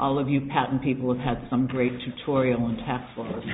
All of you patent people have had some great tutorial on tax laws.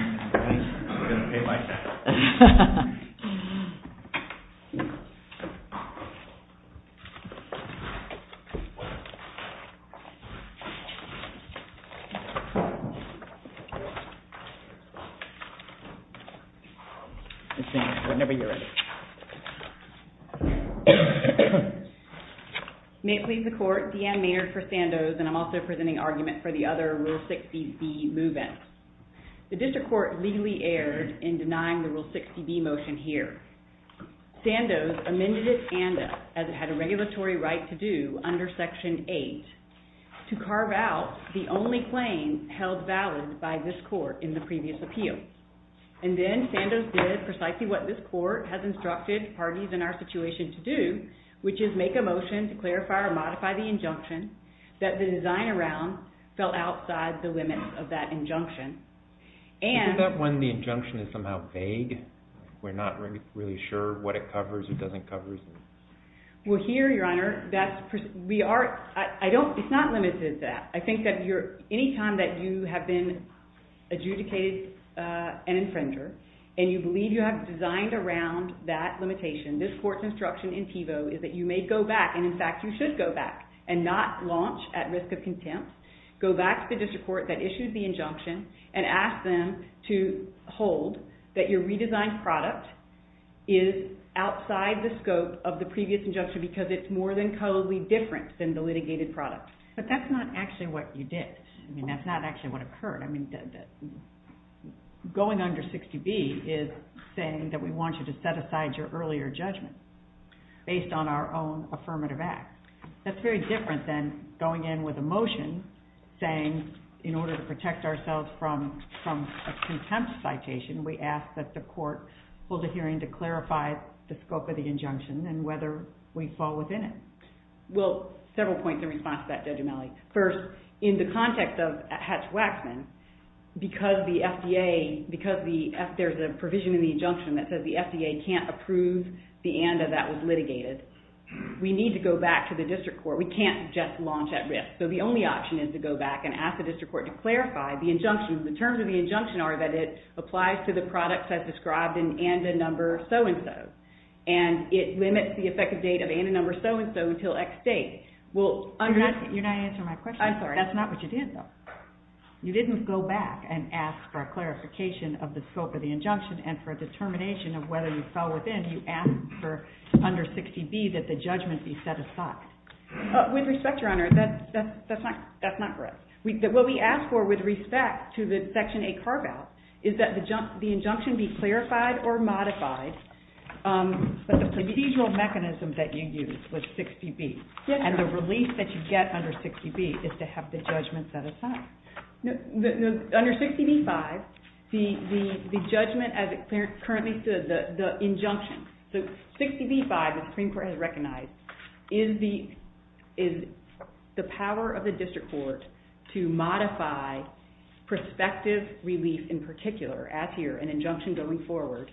May it please the Court, Deanne Maynard for Sandoz and I'm also presenting argument for the other Rule 60B move-in. The District Court legally erred in denying the Rule 60B motion here. Sandoz amended it as it had a regulatory right to do under Section 8 to carve out the only claim held valid by this Court in the previous appeal. And then Sandoz did precisely what this Court has instructed parties in our situation to do, which is make a motion to clarify or modify the injunction that the design around fell outside the limits of that injunction. Is that when the injunction is somehow vague? We're not really sure what it covers or doesn't cover? Well here, Your Honor, it's not limited to that. I think that any time that you have been adjudicated an infringer and you believe you have designed around that limitation, this Court's instruction in PIVO is that you may go back, and in fact you should go back, and not launch at risk of contempt. Go back to the District Court that issued the injunction and ask them to hold that your redesigned product is outside the scope of the previous injunction because it's more than cuddly different than the litigated product. But that's not actually what you did. I mean, that's not actually what occurred. Going under 60B is saying that we want you to set aside your earlier judgment based on our own affirmative act. That's very different than going in with a motion saying in order to protect ourselves from a contempt citation, we ask that the Court hold a hearing to clarify the scope of the injunction and whether we fall within it. Well, several points in response to that, Judge O'Malley. First, in the context of Hatch-Waxman, because the FDA, because there's a provision in the injunction that says the FDA can't approve the ANDA that was litigated, we need to go back to the District Court. We can't just launch at risk. So the only option is to go back and ask the District Court to clarify the injunction. The terms of the injunction are that it applies to the products as described in ANDA number so-and-so. And it limits the effective date of ANDA number so-and-so until X date. You're not answering my question. Sorry. That's not what you did, though. You didn't go back and ask for a clarification of the scope of the injunction and for a determination of whether you fell within. You asked for under 60B that the judgment be set aside. With respect, Your Honor, that's not correct. What we asked for with respect to the Section 8 carve-out is that the injunction be clarified or modified, but the procedural mechanism that you used was 60B. And the release that you get under 60B is to have the judgment set aside. Under 60B-5, the judgment, as it currently says, the injunction, so 60B-5, the Supreme Court has recognized, is the power of the District Court to modify prospective relief in particular, as here, an injunction going forward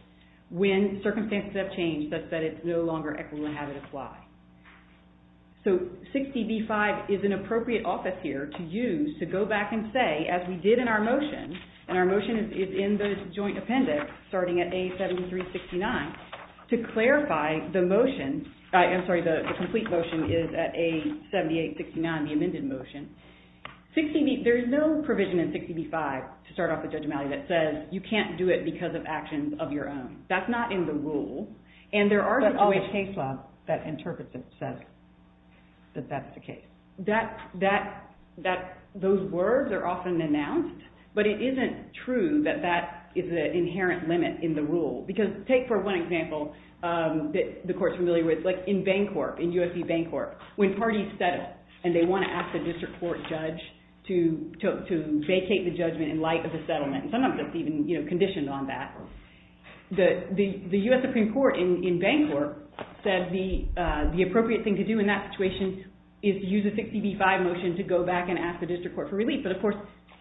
when circumstances have changed such that it's no longer equitable and have it apply. So 60B-5 is an appropriate office here to use to go back and say, as we did in our motion, and our motion is in the joint appendix starting at A73-69, to clarify the motion. I'm sorry, the complete motion is at A78-69, the amended motion. There is no provision in 60B-5 to start off the judgment that says you can't do it because of actions of your own. That's not in the rule. But all the case law that interprets it says that that's the case. Those words are often announced, but it isn't true that that is an inherent limit in the rule. Because take for one example that the Court is familiar with, like in Bancorp, in USC Bancorp, when parties settle and they want to ask the District Court judge to vacate the judgment in light of the settlement, and sometimes it's even conditioned on that, the U.S. Supreme Court in Bancorp said the appropriate thing to do in that situation is to use a 60B-5 motion to go back and ask the District Court for relief. But of course,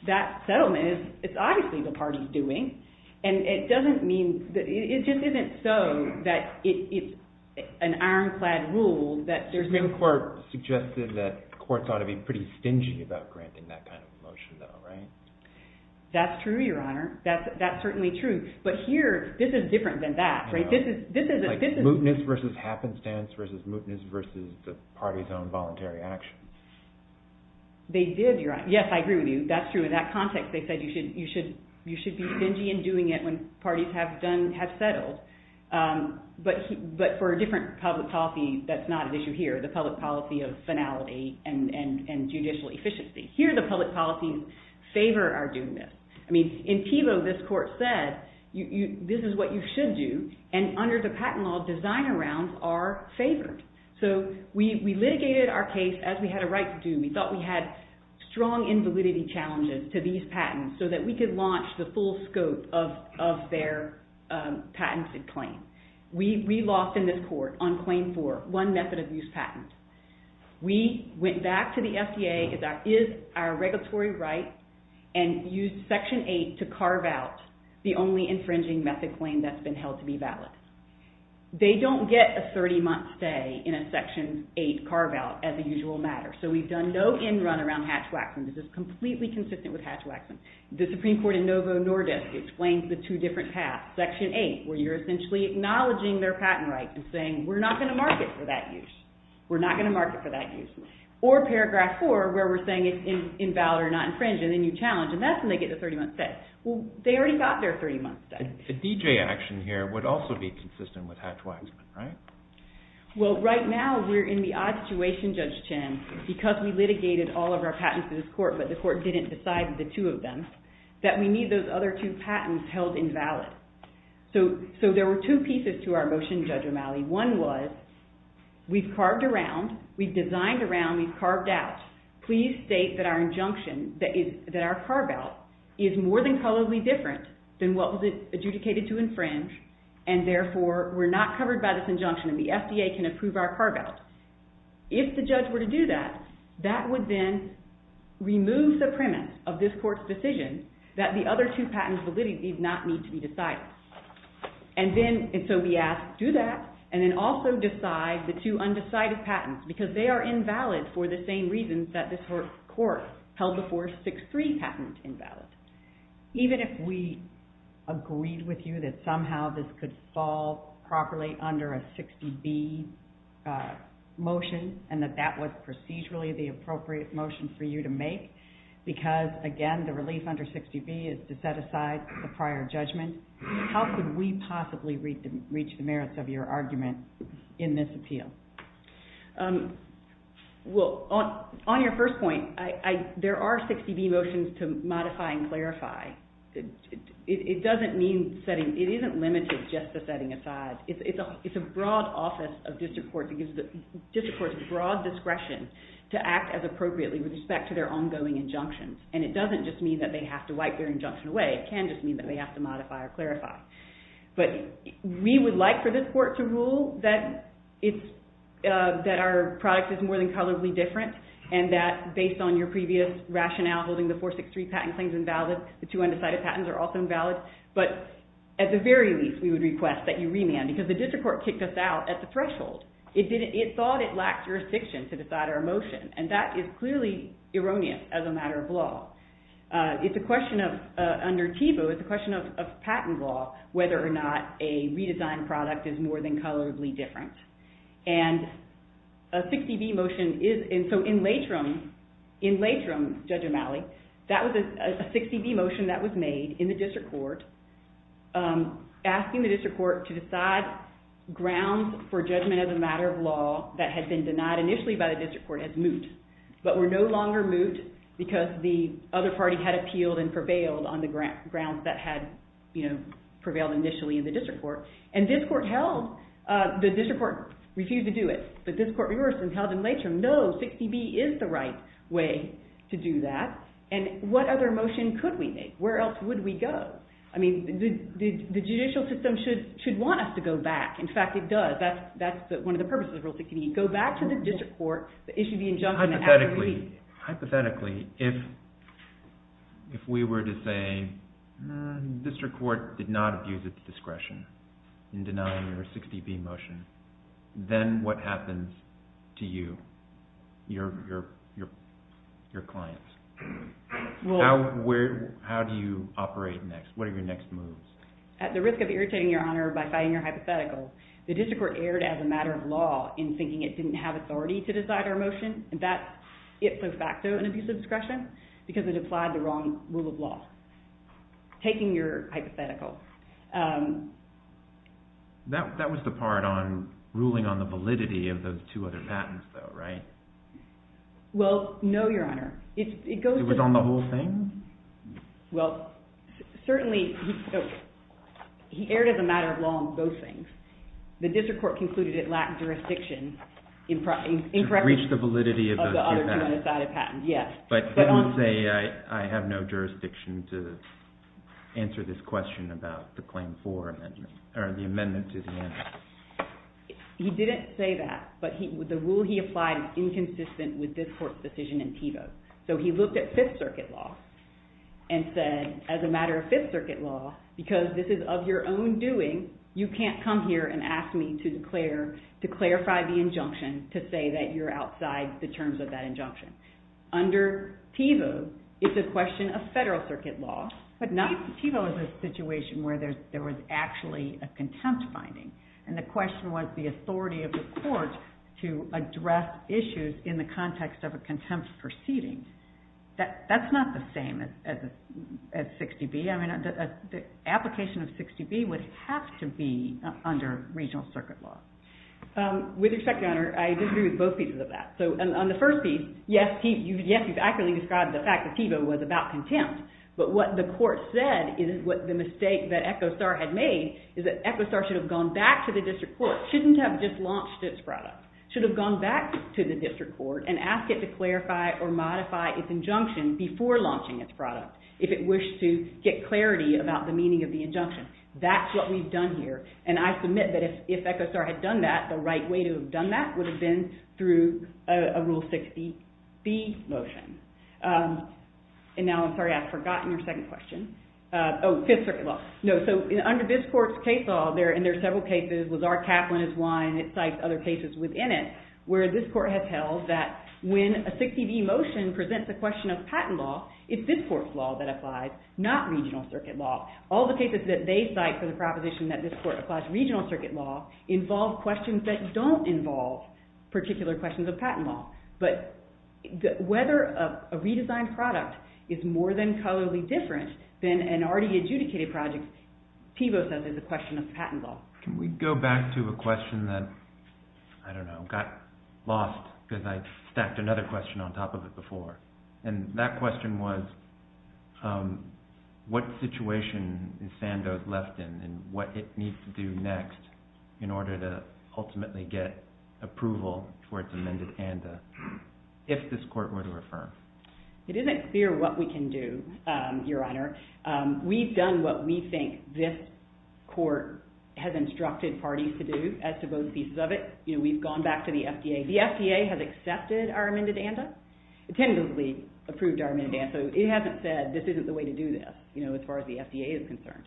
that settlement is obviously the parties doing, and it doesn't mean, it just isn't so that it's an ironclad rule that there's no... The Supreme Court suggested that courts ought to be pretty stingy about granting that kind of motion though, right? That's true, Your Honor. That's certainly true. But here, this is different than that, right? This is... Like mootness versus happenstance versus mootness versus the party's own voluntary action. They did, Your Honor. Yes, I agree with you. That's true. In that context, they said you should be stingy in doing it when parties have settled. But for a different public policy, that's not an issue here, the public policy of finality and judicial efficiency. Here, the public policies favor our doing this. In PIVO, this court said, this is what you should do, and under the patent law, designer rounds are favored. So we litigated our case as we had a right to do. We thought we had strong invalidity challenges to these patents so that we could launch the full scope of their patented claim. We lost in this court on claim four, one method of use patent. We went back to the FDA, that is our regulatory right, and used Section 8 to carve out the only infringing method claim that's been held to be valid. They don't get a 30-month stay in a Section 8 carve out as a usual matter. So we've done no end run around Hatch-Waxman. This is completely consistent with Hatch-Waxman. The Supreme Court in Novo Nordisk explains the two different paths. Section 8, where you're essentially acknowledging their patent rights and saying we're not going to market for that use. We're not going to market for that use. Or Paragraph 4, where we're saying it's invalid or not infringed, and then you challenge, and that's when they get the 30-month stay. Well, they already got their 30-month stay. The DJ action here would also be consistent with Hatch-Waxman, right? Well, right now, we're in the odd situation, Judge Chin, because we litigated all of our patents in this court, but the court didn't decide the two of them, that we need those other two patents held invalid. So there were two pieces to our motion, Judge O'Malley. One was, we've carved around, we've designed around, we've carved out. Please state that our injunction, that our carve-out, is more than probably different than what was adjudicated to infringe, and therefore, we're not covered by this injunction and the FDA can approve our carve-out. If the judge were to do that, that would then remove the premise of this court's decision that the other two patents validity did not need to be decided. And then, so we ask, do that, and then also decide the two undecided patents, because they are invalid for the same reasons that this court held the 463 patent invalid. Even if we agreed with you that somehow this could fall properly under a 60B motion, and that that was procedurally the appropriate motion for you to make, because again, the prior judgment, how could we possibly reach the merits of your argument in this appeal? Well, on your first point, there are 60B motions to modify and clarify. It doesn't mean setting, it isn't limited just to setting aside. It's a broad office of district courts, district courts have broad discretion to act as appropriately with respect to their ongoing injunctions. And it doesn't just mean that they have to wipe their injunction away, it can just mean that they have to modify or clarify. But we would like for this court to rule that our product is more than colorably different, and that based on your previous rationale, holding the 463 patent claims invalid, the two undecided patents are also invalid, but at the very least, we would request that you remand, because the district court kicked us out at the threshold. It thought it lacked jurisdiction to decide our motion, and that is clearly erroneous as a matter of law. It's a question of, under TEVO, it's a question of patent law, whether or not a redesigned product is more than colorably different. And a 60B motion is, and so in Latrim, Judge O'Malley, that was a 60B motion that was made in the district court, asking the district court to decide grounds for judgment as a matter of law that had been denied initially by the district court as moot, but were no grounds, because the other party had appealed and prevailed on the grounds that had prevailed initially in the district court. And this court held, the district court refused to do it, but this court reversed and held in Latrim, no, 60B is the right way to do that. And what other motion could we make? Where else would we go? I mean, the judicial system should want us to go back. In fact, it does. That's one of the purposes of Rule 60B, go back to the district court, issue the injunction Hypothetically, if we were to say, district court did not abuse its discretion in denying your 60B motion, then what happens to you, your clients? How do you operate next? What are your next moves? At the risk of irritating your honor by fighting your hypotheticals, the district court erred as a matter of law in thinking it didn't have authority to decide our motion, and that is de facto an abuse of discretion, because it applied the wrong rule of law. Taking your hypothetical. That was the part on ruling on the validity of those two other patents though, right? Well, no, your honor. It was on the whole thing? Well, certainly, he erred as a matter of law on both things. The district court concluded it lacked jurisdiction in correcting the validity of the other two unassided patents, yes. But he would say, I have no jurisdiction to answer this question about the claim for amendment, or the amendment to the amendment. He didn't say that, but the rule he applied was inconsistent with this court's decision in Tevo. So he looked at Fifth Circuit law and said, as a matter of Fifth Circuit law, because this is of your own doing, you can't come here and ask me to clarify the injunction to say that you're outside the terms of that injunction. Under Tevo, it's a question of Federal Circuit law. But Tevo is a situation where there was actually a contempt finding, and the question was the authority of the court to address issues in the context of a contempt proceeding. That's not the same as 60B. The application of 60B would have to be under regional circuit law. With respect, Your Honor, I disagree with both pieces of that. So on the first piece, yes, he's accurately described the fact that Tevo was about contempt. But what the court said is the mistake that Echo Star had made is that Echo Star should have gone back to the district court. It shouldn't have just launched its product. It should have gone back to the district court and asked it to clarify or modify its injunction before launching its product, if it wished to get clarity about the meaning of the injunction. That's what we've done here. And I submit that if Echo Star had done that, the right way to have done that would have been through a Rule 60B motion. And now, I'm sorry, I've forgotten your second question. Oh, Fifth Circuit law. No, so under this court's case law, and there are several cases, was our cap one is one, it cites other cases within it, where this court has held that when a 60B motion presents a question of patent law, it's this court's law that applies, not regional circuit law. All the cases that they cite for the proposition that this court applies regional circuit law involve questions that don't involve particular questions of patent law. But whether a redesigned product is more than colorly different than an already adjudicated project, Tevo says is a question of patent law. Can we go back to a question that, I don't know, got lost because I stacked another question on top of it before. And that question was, what situation is Sandoz left in and what it needs to do next in order to ultimately get approval for its amended ANDA if this court were to refer? It isn't clear what we can do, Your Honor. We've done what we think this court has instructed parties to do as to both pieces of it. We've gone back to the FDA. The FDA has accepted our amended ANDA, tentatively approved our amended ANDA, so it hasn't said this isn't the way to do this as far as the FDA is concerned.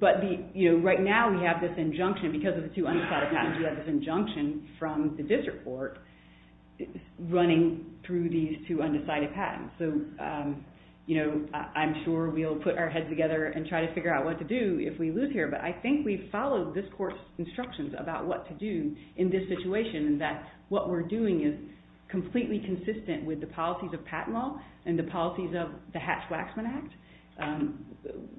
But right now we have this injunction because of the two undecided patents, we have this injunction from the district court running through these two undecided patents. So I'm sure we'll put our heads together and try to figure out what to do if we lose here, but I think we've followed this court's instructions about what to do in this situation and that what we're doing is completely consistent with the policies of patent law and the policies of the Hatch-Waxman Act.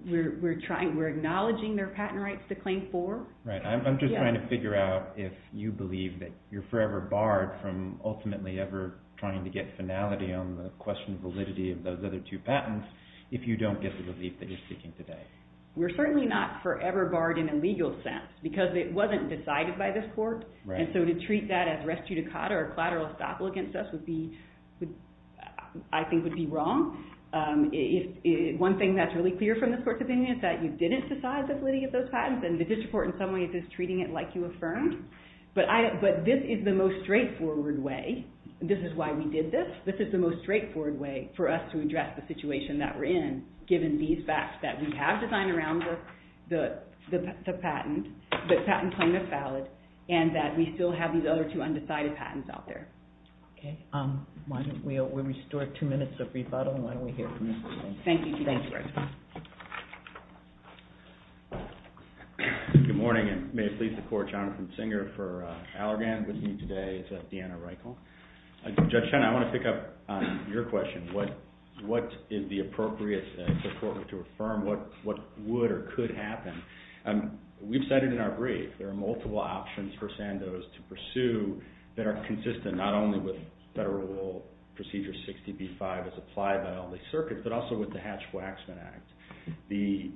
We're acknowledging their patent rights to claim for. Right. I'm just trying to figure out if you believe that you're forever barred from ultimately ever trying to get finality on the question of validity of those other two patents if you don't get the belief that you're speaking today. We're certainly not forever barred in a legal sense because it wasn't decided by this court. Right. And so to treat that as res judicata or collateral estoppel against us would be, I think would be wrong. One thing that's really clear from this court's opinion is that you didn't decide the validity of those patents and the district court in some ways is treating it like you affirmed. But this is the most straightforward way. This is why we did this. This is the most straightforward way for us to address the situation that we're in given these facts that we have designed around the patent, the patent claim is valid, and that we still have these other two undecided patents out there. Okay. Why don't we restore two minutes of rebuttal and why don't we hear from Mr. Schoen. Thank you. Thank you, Judge Schoen. Good morning and may it please the court, Jonathan Singer for Allergan with me today is Deanna Reichel. Judge Schoen, I want to pick up on your question. What is the appropriate court to affirm? What would or could happen? We've said it in our brief. There are multiple options for Sandoz to pursue that are consistent not only with Federal Rule Procedure 60B-5 as applied by all the circuits, but also with the Hatch-Waxman Act. The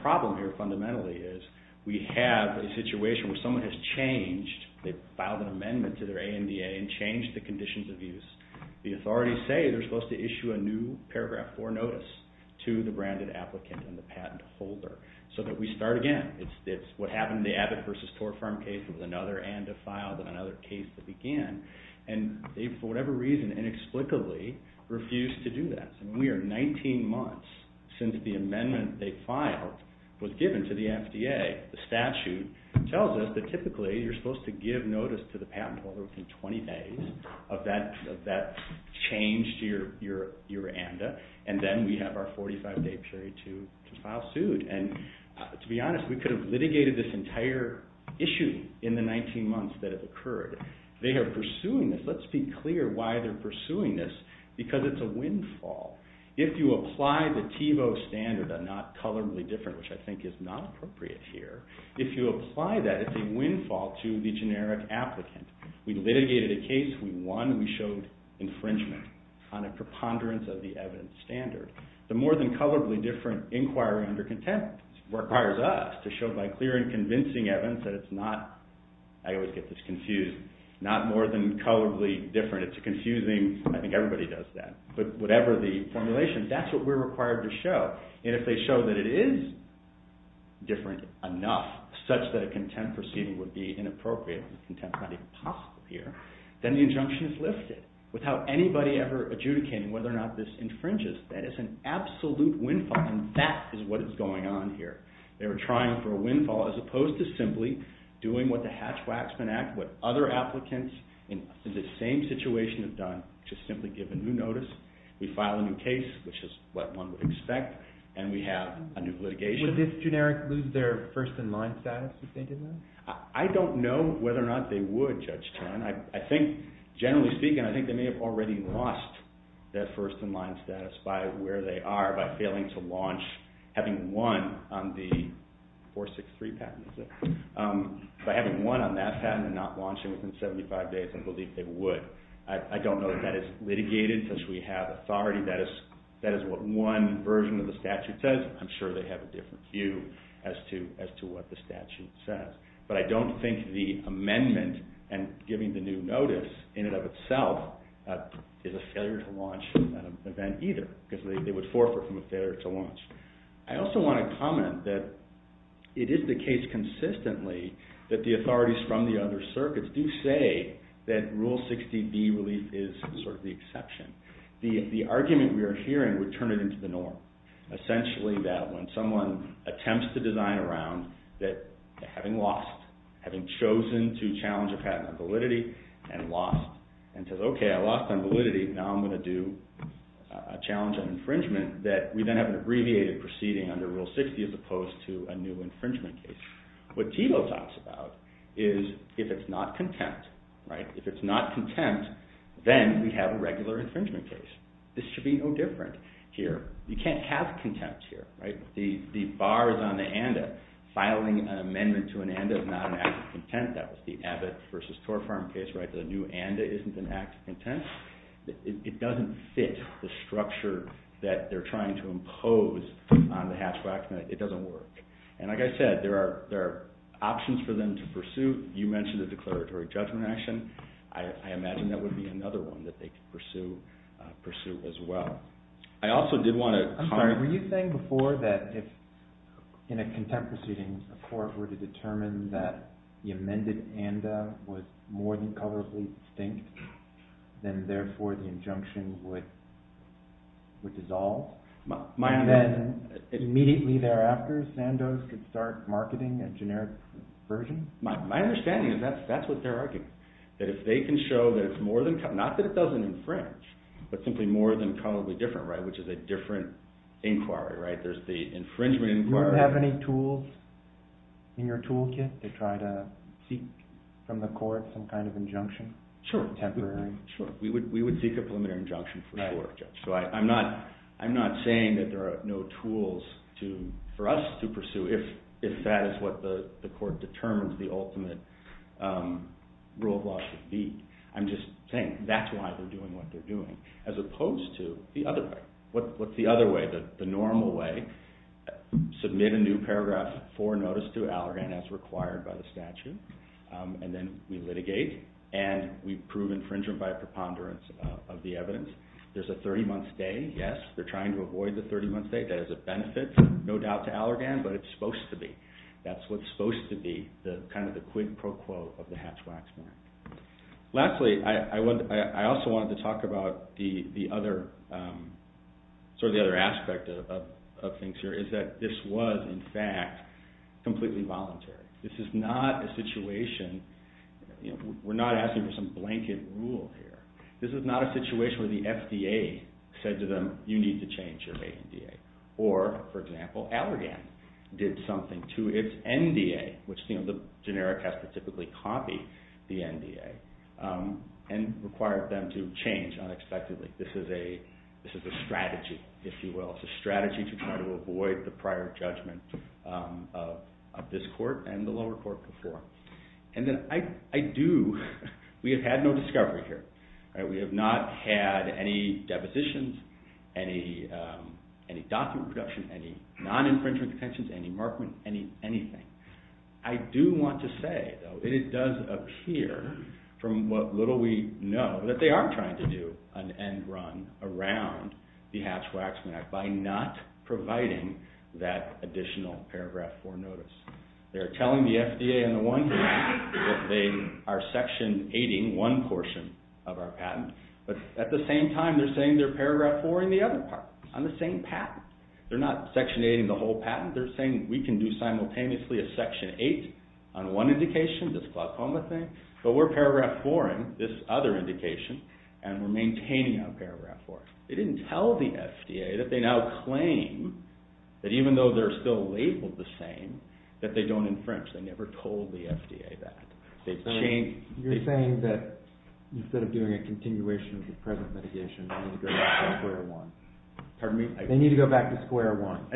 problem here fundamentally is we have a situation where someone has changed. They filed an amendment to their ANDA and changed the conditions of use. The authorities say they're supposed to issue a new paragraph 4 notice to the branded applicant and the patent holder so that we start again. It's what happened in the Abbott versus Torfarm case was another and a file, then another case that began, and they, for whatever reason, inexplicably refused to do that. We are 19 months since the amendment they filed was given to the FDA. The statute tells us that typically you're supposed to give notice to the patent holder within 20 days of that change to your ANDA, and then we have our 45-day period to file suit. To be honest, we could have litigated this entire issue in the 19 months that it occurred. They are pursuing this. Let's be clear why they're pursuing this, because it's a windfall. If you apply the TiVo standard, a not colorably different, which I think is not appropriate here, if you apply that, it's a windfall to the generic applicant. We litigated a case, we won, we showed infringement on a preponderance of the evidence standard. The more than colorably different inquiry under contempt requires us to show by clear and convincing evidence that it's not, I always get this confused, not more than colorably different. It's confusing. I think everybody does that. But whatever the formulation, that's what we're required to show. And if they show that it is different enough such that a contempt proceeding would be inappropriate, contempt not even possible here, then the injunction is lifted without anybody ever adjudicating whether or not this infringes. That is an absolute windfall, and that is what is going on here. They were trying for a windfall as opposed to simply doing what the Hatch-Waxman Act, what other applicants in the same situation have done, which is simply give a new notice, we file a new case, which is what one would expect, and we have a new litigation. Would this generic lose their first-in-line status if they did that? I don't know whether or not they would, Judge Tan. I think, generally speaking, I think they may have already lost their first-in-line status by where they are, by failing to launch, having won on the 463 patent, is it? By having won on that patent and not launching within 75 days, I believe they would. I don't know that that is litigated, since we have authority. That is what one version of the statute says. I'm sure they have a different view as to what the statute says. But I don't think the amendment and giving the new notice, in and of itself, is a failure to launch an event either, because they would forfeit from a failure to launch. I also want to comment that it is the case consistently that the authorities from the other circuits do say that Rule 60B relief is sort of the exception. The argument we are hearing would turn it into the norm, essentially that when someone attempts to design a round that, having lost, having chosen to challenge a patent on validity and lost, and says, okay, I lost on validity, now I'm going to do a challenge on infringement, that we then have an abbreviated proceeding under Rule 60 as opposed to a new infringement case. What Thiebaud talks about is if it's not contempt. If it's not contempt, then we have a regular infringement case. This should be no different here. You can't have contempt here. The bar is on the ANDA. Filing an amendment to an ANDA is not an act of contempt. That was the Abbott v. Torfarm case. The new ANDA isn't an act of contempt. It doesn't fit the structure that they're trying to impose on the Hatch-Waxman. It doesn't work. And like I said, there are options for them to pursue. You mentioned the declaratory judgment action. I imagine that would be another one that they could pursue as well. I also did want to – I'm sorry, were you saying before that if in a contempt proceeding, a court were to determine that the amended ANDA was more than colorably distinct, then therefore the injunction would dissolve? And then immediately thereafter, Sandoz could start marketing a generic version? My understanding is that's what they're arguing, that if they can show that it's more than – not that it doesn't infringe, but simply more than colorably different, which is a different inquiry. There's the infringement inquiry. Do you have any tools in your toolkit to try to seek from the court some kind of injunction? Sure. Temporary. Sure. We would seek a preliminary injunction for the court, Judge. So I'm not saying that there are no tools for us to pursue if that is what the court determines the ultimate rule of law should be. I'm just saying that's why they're doing what they're doing as opposed to the other way. What's the other way, the normal way? Submit a new paragraph for notice to Allergan as required by the statute, and then we litigate and we prove infringement by preponderance of the evidence. There's a 30-month stay, yes. They're trying to avoid the 30-month stay. That is a benefit, no doubt, to Allergan, but it's supposed to be. That's what's supposed to be kind of the quid pro quo of the Hatch-Waxman. Lastly, I also wanted to talk about sort of the other aspect of things here, is that this was, in fact, completely voluntary. This is not a situation, we're not asking for some blanket rule here. This is not a situation where the FDA said to them, you need to change your ANDA. Or, for example, Allergan did something to its NDA, which the generic has to typically copy the NDA, and required them to change unexpectedly. This is a strategy, if you will. It's a strategy to try to avoid the prior judgment of this court and the lower court before. And then I do, we have had no discovery here. We have not had any depositions, any document production, any non-infringement contentions, any markment, anything. I do want to say, though, it does appear, from what little we know, that they are trying to do an end run around the Hatch-Waxman Act by not providing that additional paragraph 4 notice. They're telling the FDA on the one hand that they are section 8-ing one portion of our patent, but at the same time they're saying they're paragraph 4-ing the other part, on the same patent. They're not section 8-ing the whole patent. They're saying we can do simultaneously a section 8 on one indication, this glaucoma thing, but we're paragraph 4-ing this other indication, and we're maintaining our paragraph 4. They didn't tell the FDA that they now claim that even though they're still labeled the same, that they don't infringe. They never told the FDA that. They've changed... You're saying that instead of doing a continuation of the present mitigation, they need to go back to square one. Pardon me? They need to go back to square one.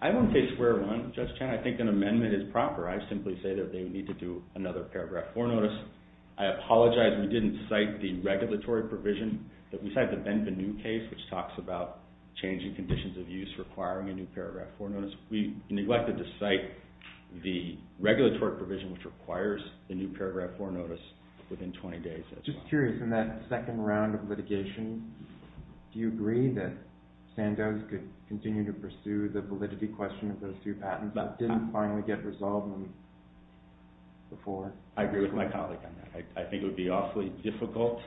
I won't say square one, Judge Chan. I think an amendment is proper. I simply say that they need to do another paragraph 4 notice. I apologize we didn't cite the regulatory provision. We cited the Benvenue case, which talks about changing conditions of use requiring a new paragraph 4 notice. We neglected to cite the regulatory provision which requires a new paragraph 4 notice within 20 days. Just curious, in that second round of litigation, do you agree that Sandoz could continue to pursue the validity question of those two patents that didn't finally get resolved before? I agree with my colleague on that. I think it would be awfully difficult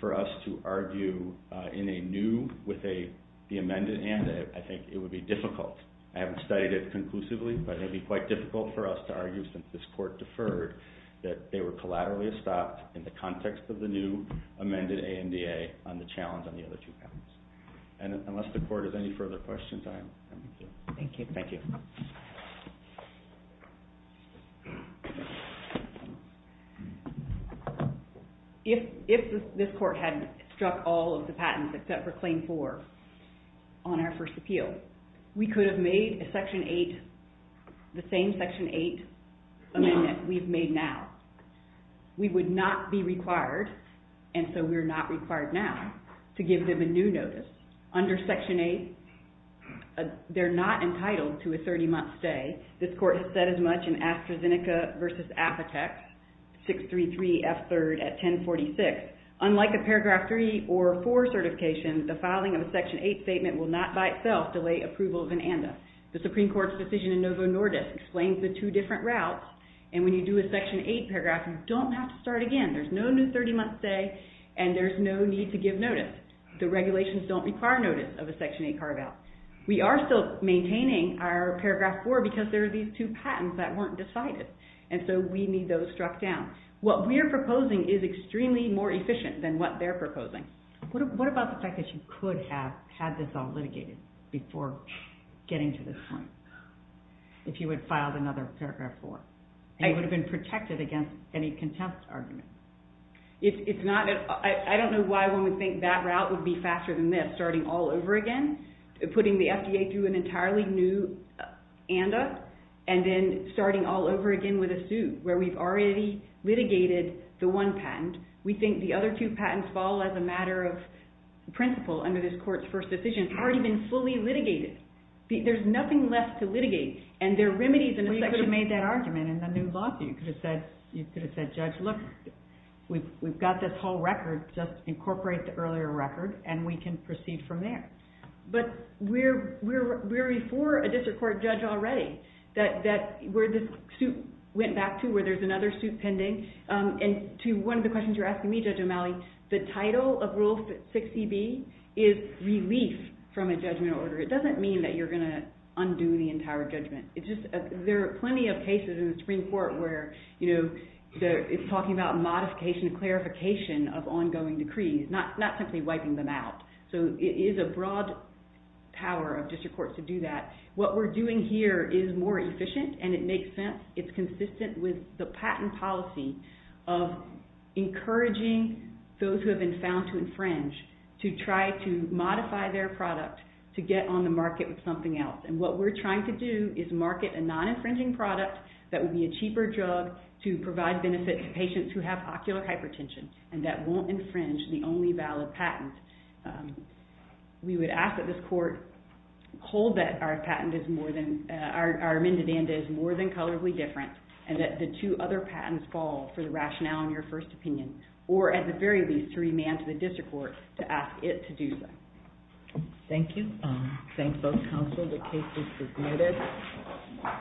for us to argue in a new, with the amended amendment. I think it would be difficult. I haven't studied it conclusively, but it would be quite difficult for us to argue since this court deferred that they were collaterally stopped in the context of the new amended AMDA on the challenge on the other two patents. Unless the court has any further questions, I am done. Thank you. If this court had struck all of the patents except for claim 4 on our first appeal, we could have made a Section 8, the same Section 8 amendment we've made now. We would not be required, and so we're not required now, to give them a new notice. Under Section 8, they're not entitled to a 30-month stay. This court has said as much in AstraZeneca v. Apotex 633F3 at 1046. Unlike a Paragraph 3 or 4 certification, the filing of a Section 8 statement will not by itself delay approval of an AMDA. The Supreme Court's decision in Novo Nordisk explains the two different routes, and when you do a Section 8 paragraph, you don't have to start again. There's no new 30-month stay, and there's no need to give notice. The regulations don't require notice of a Section 8 carve-out. We are still maintaining our Paragraph 4 because there are these two patents that weren't decided, and so we need those struck down. What we're proposing is extremely more efficient than what they're proposing. What about the fact that you could have had this all litigated before getting to this point, if you had filed another Paragraph 4? It would have been protected against any contempt argument. I don't know why one would think that route would be faster than this, starting all over again, putting the FDA through an entirely new AMDA, and then starting all over again with a suit where we've already litigated the one patent. We think the other two patents fall as a matter of principle under this Court's first decision. They've already been fully litigated. There's nothing left to litigate, and there are remedies in the section. Well, you could have made that argument in the new law suit. You could have said, Judge, look, we've got this whole record. Just incorporate the earlier record, and we can proceed from there. But we're before a district court judge already where this suit went back to, where there's another suit pending. And to one of the questions you're asking me, Judge O'Malley, the title of Rule 6cB is relief from a judgment order. It doesn't mean that you're going to undo the entire judgment. There are plenty of cases in the Supreme Court where it's talking about modification, clarification of ongoing decrees, not simply wiping them out. So it is a broad power of district courts to do that. What we're doing here is more efficient, and it makes sense. It's consistent with the patent policy of encouraging those who have been found to infringe to try to modify their product to get on the market with something else. And what we're trying to do is market a non-infringing product that would be a cheaper drug to provide benefit to patients who have ocular hypertension and that won't infringe the only valid patent. We would ask that this court hold that our amended ANDA is more than colorably different and that the two other patents fall for the rationale in your first opinion, or at the very least to remand to the district court to ask it to do so. Thank you. Thanks both counsel. The case is submitted.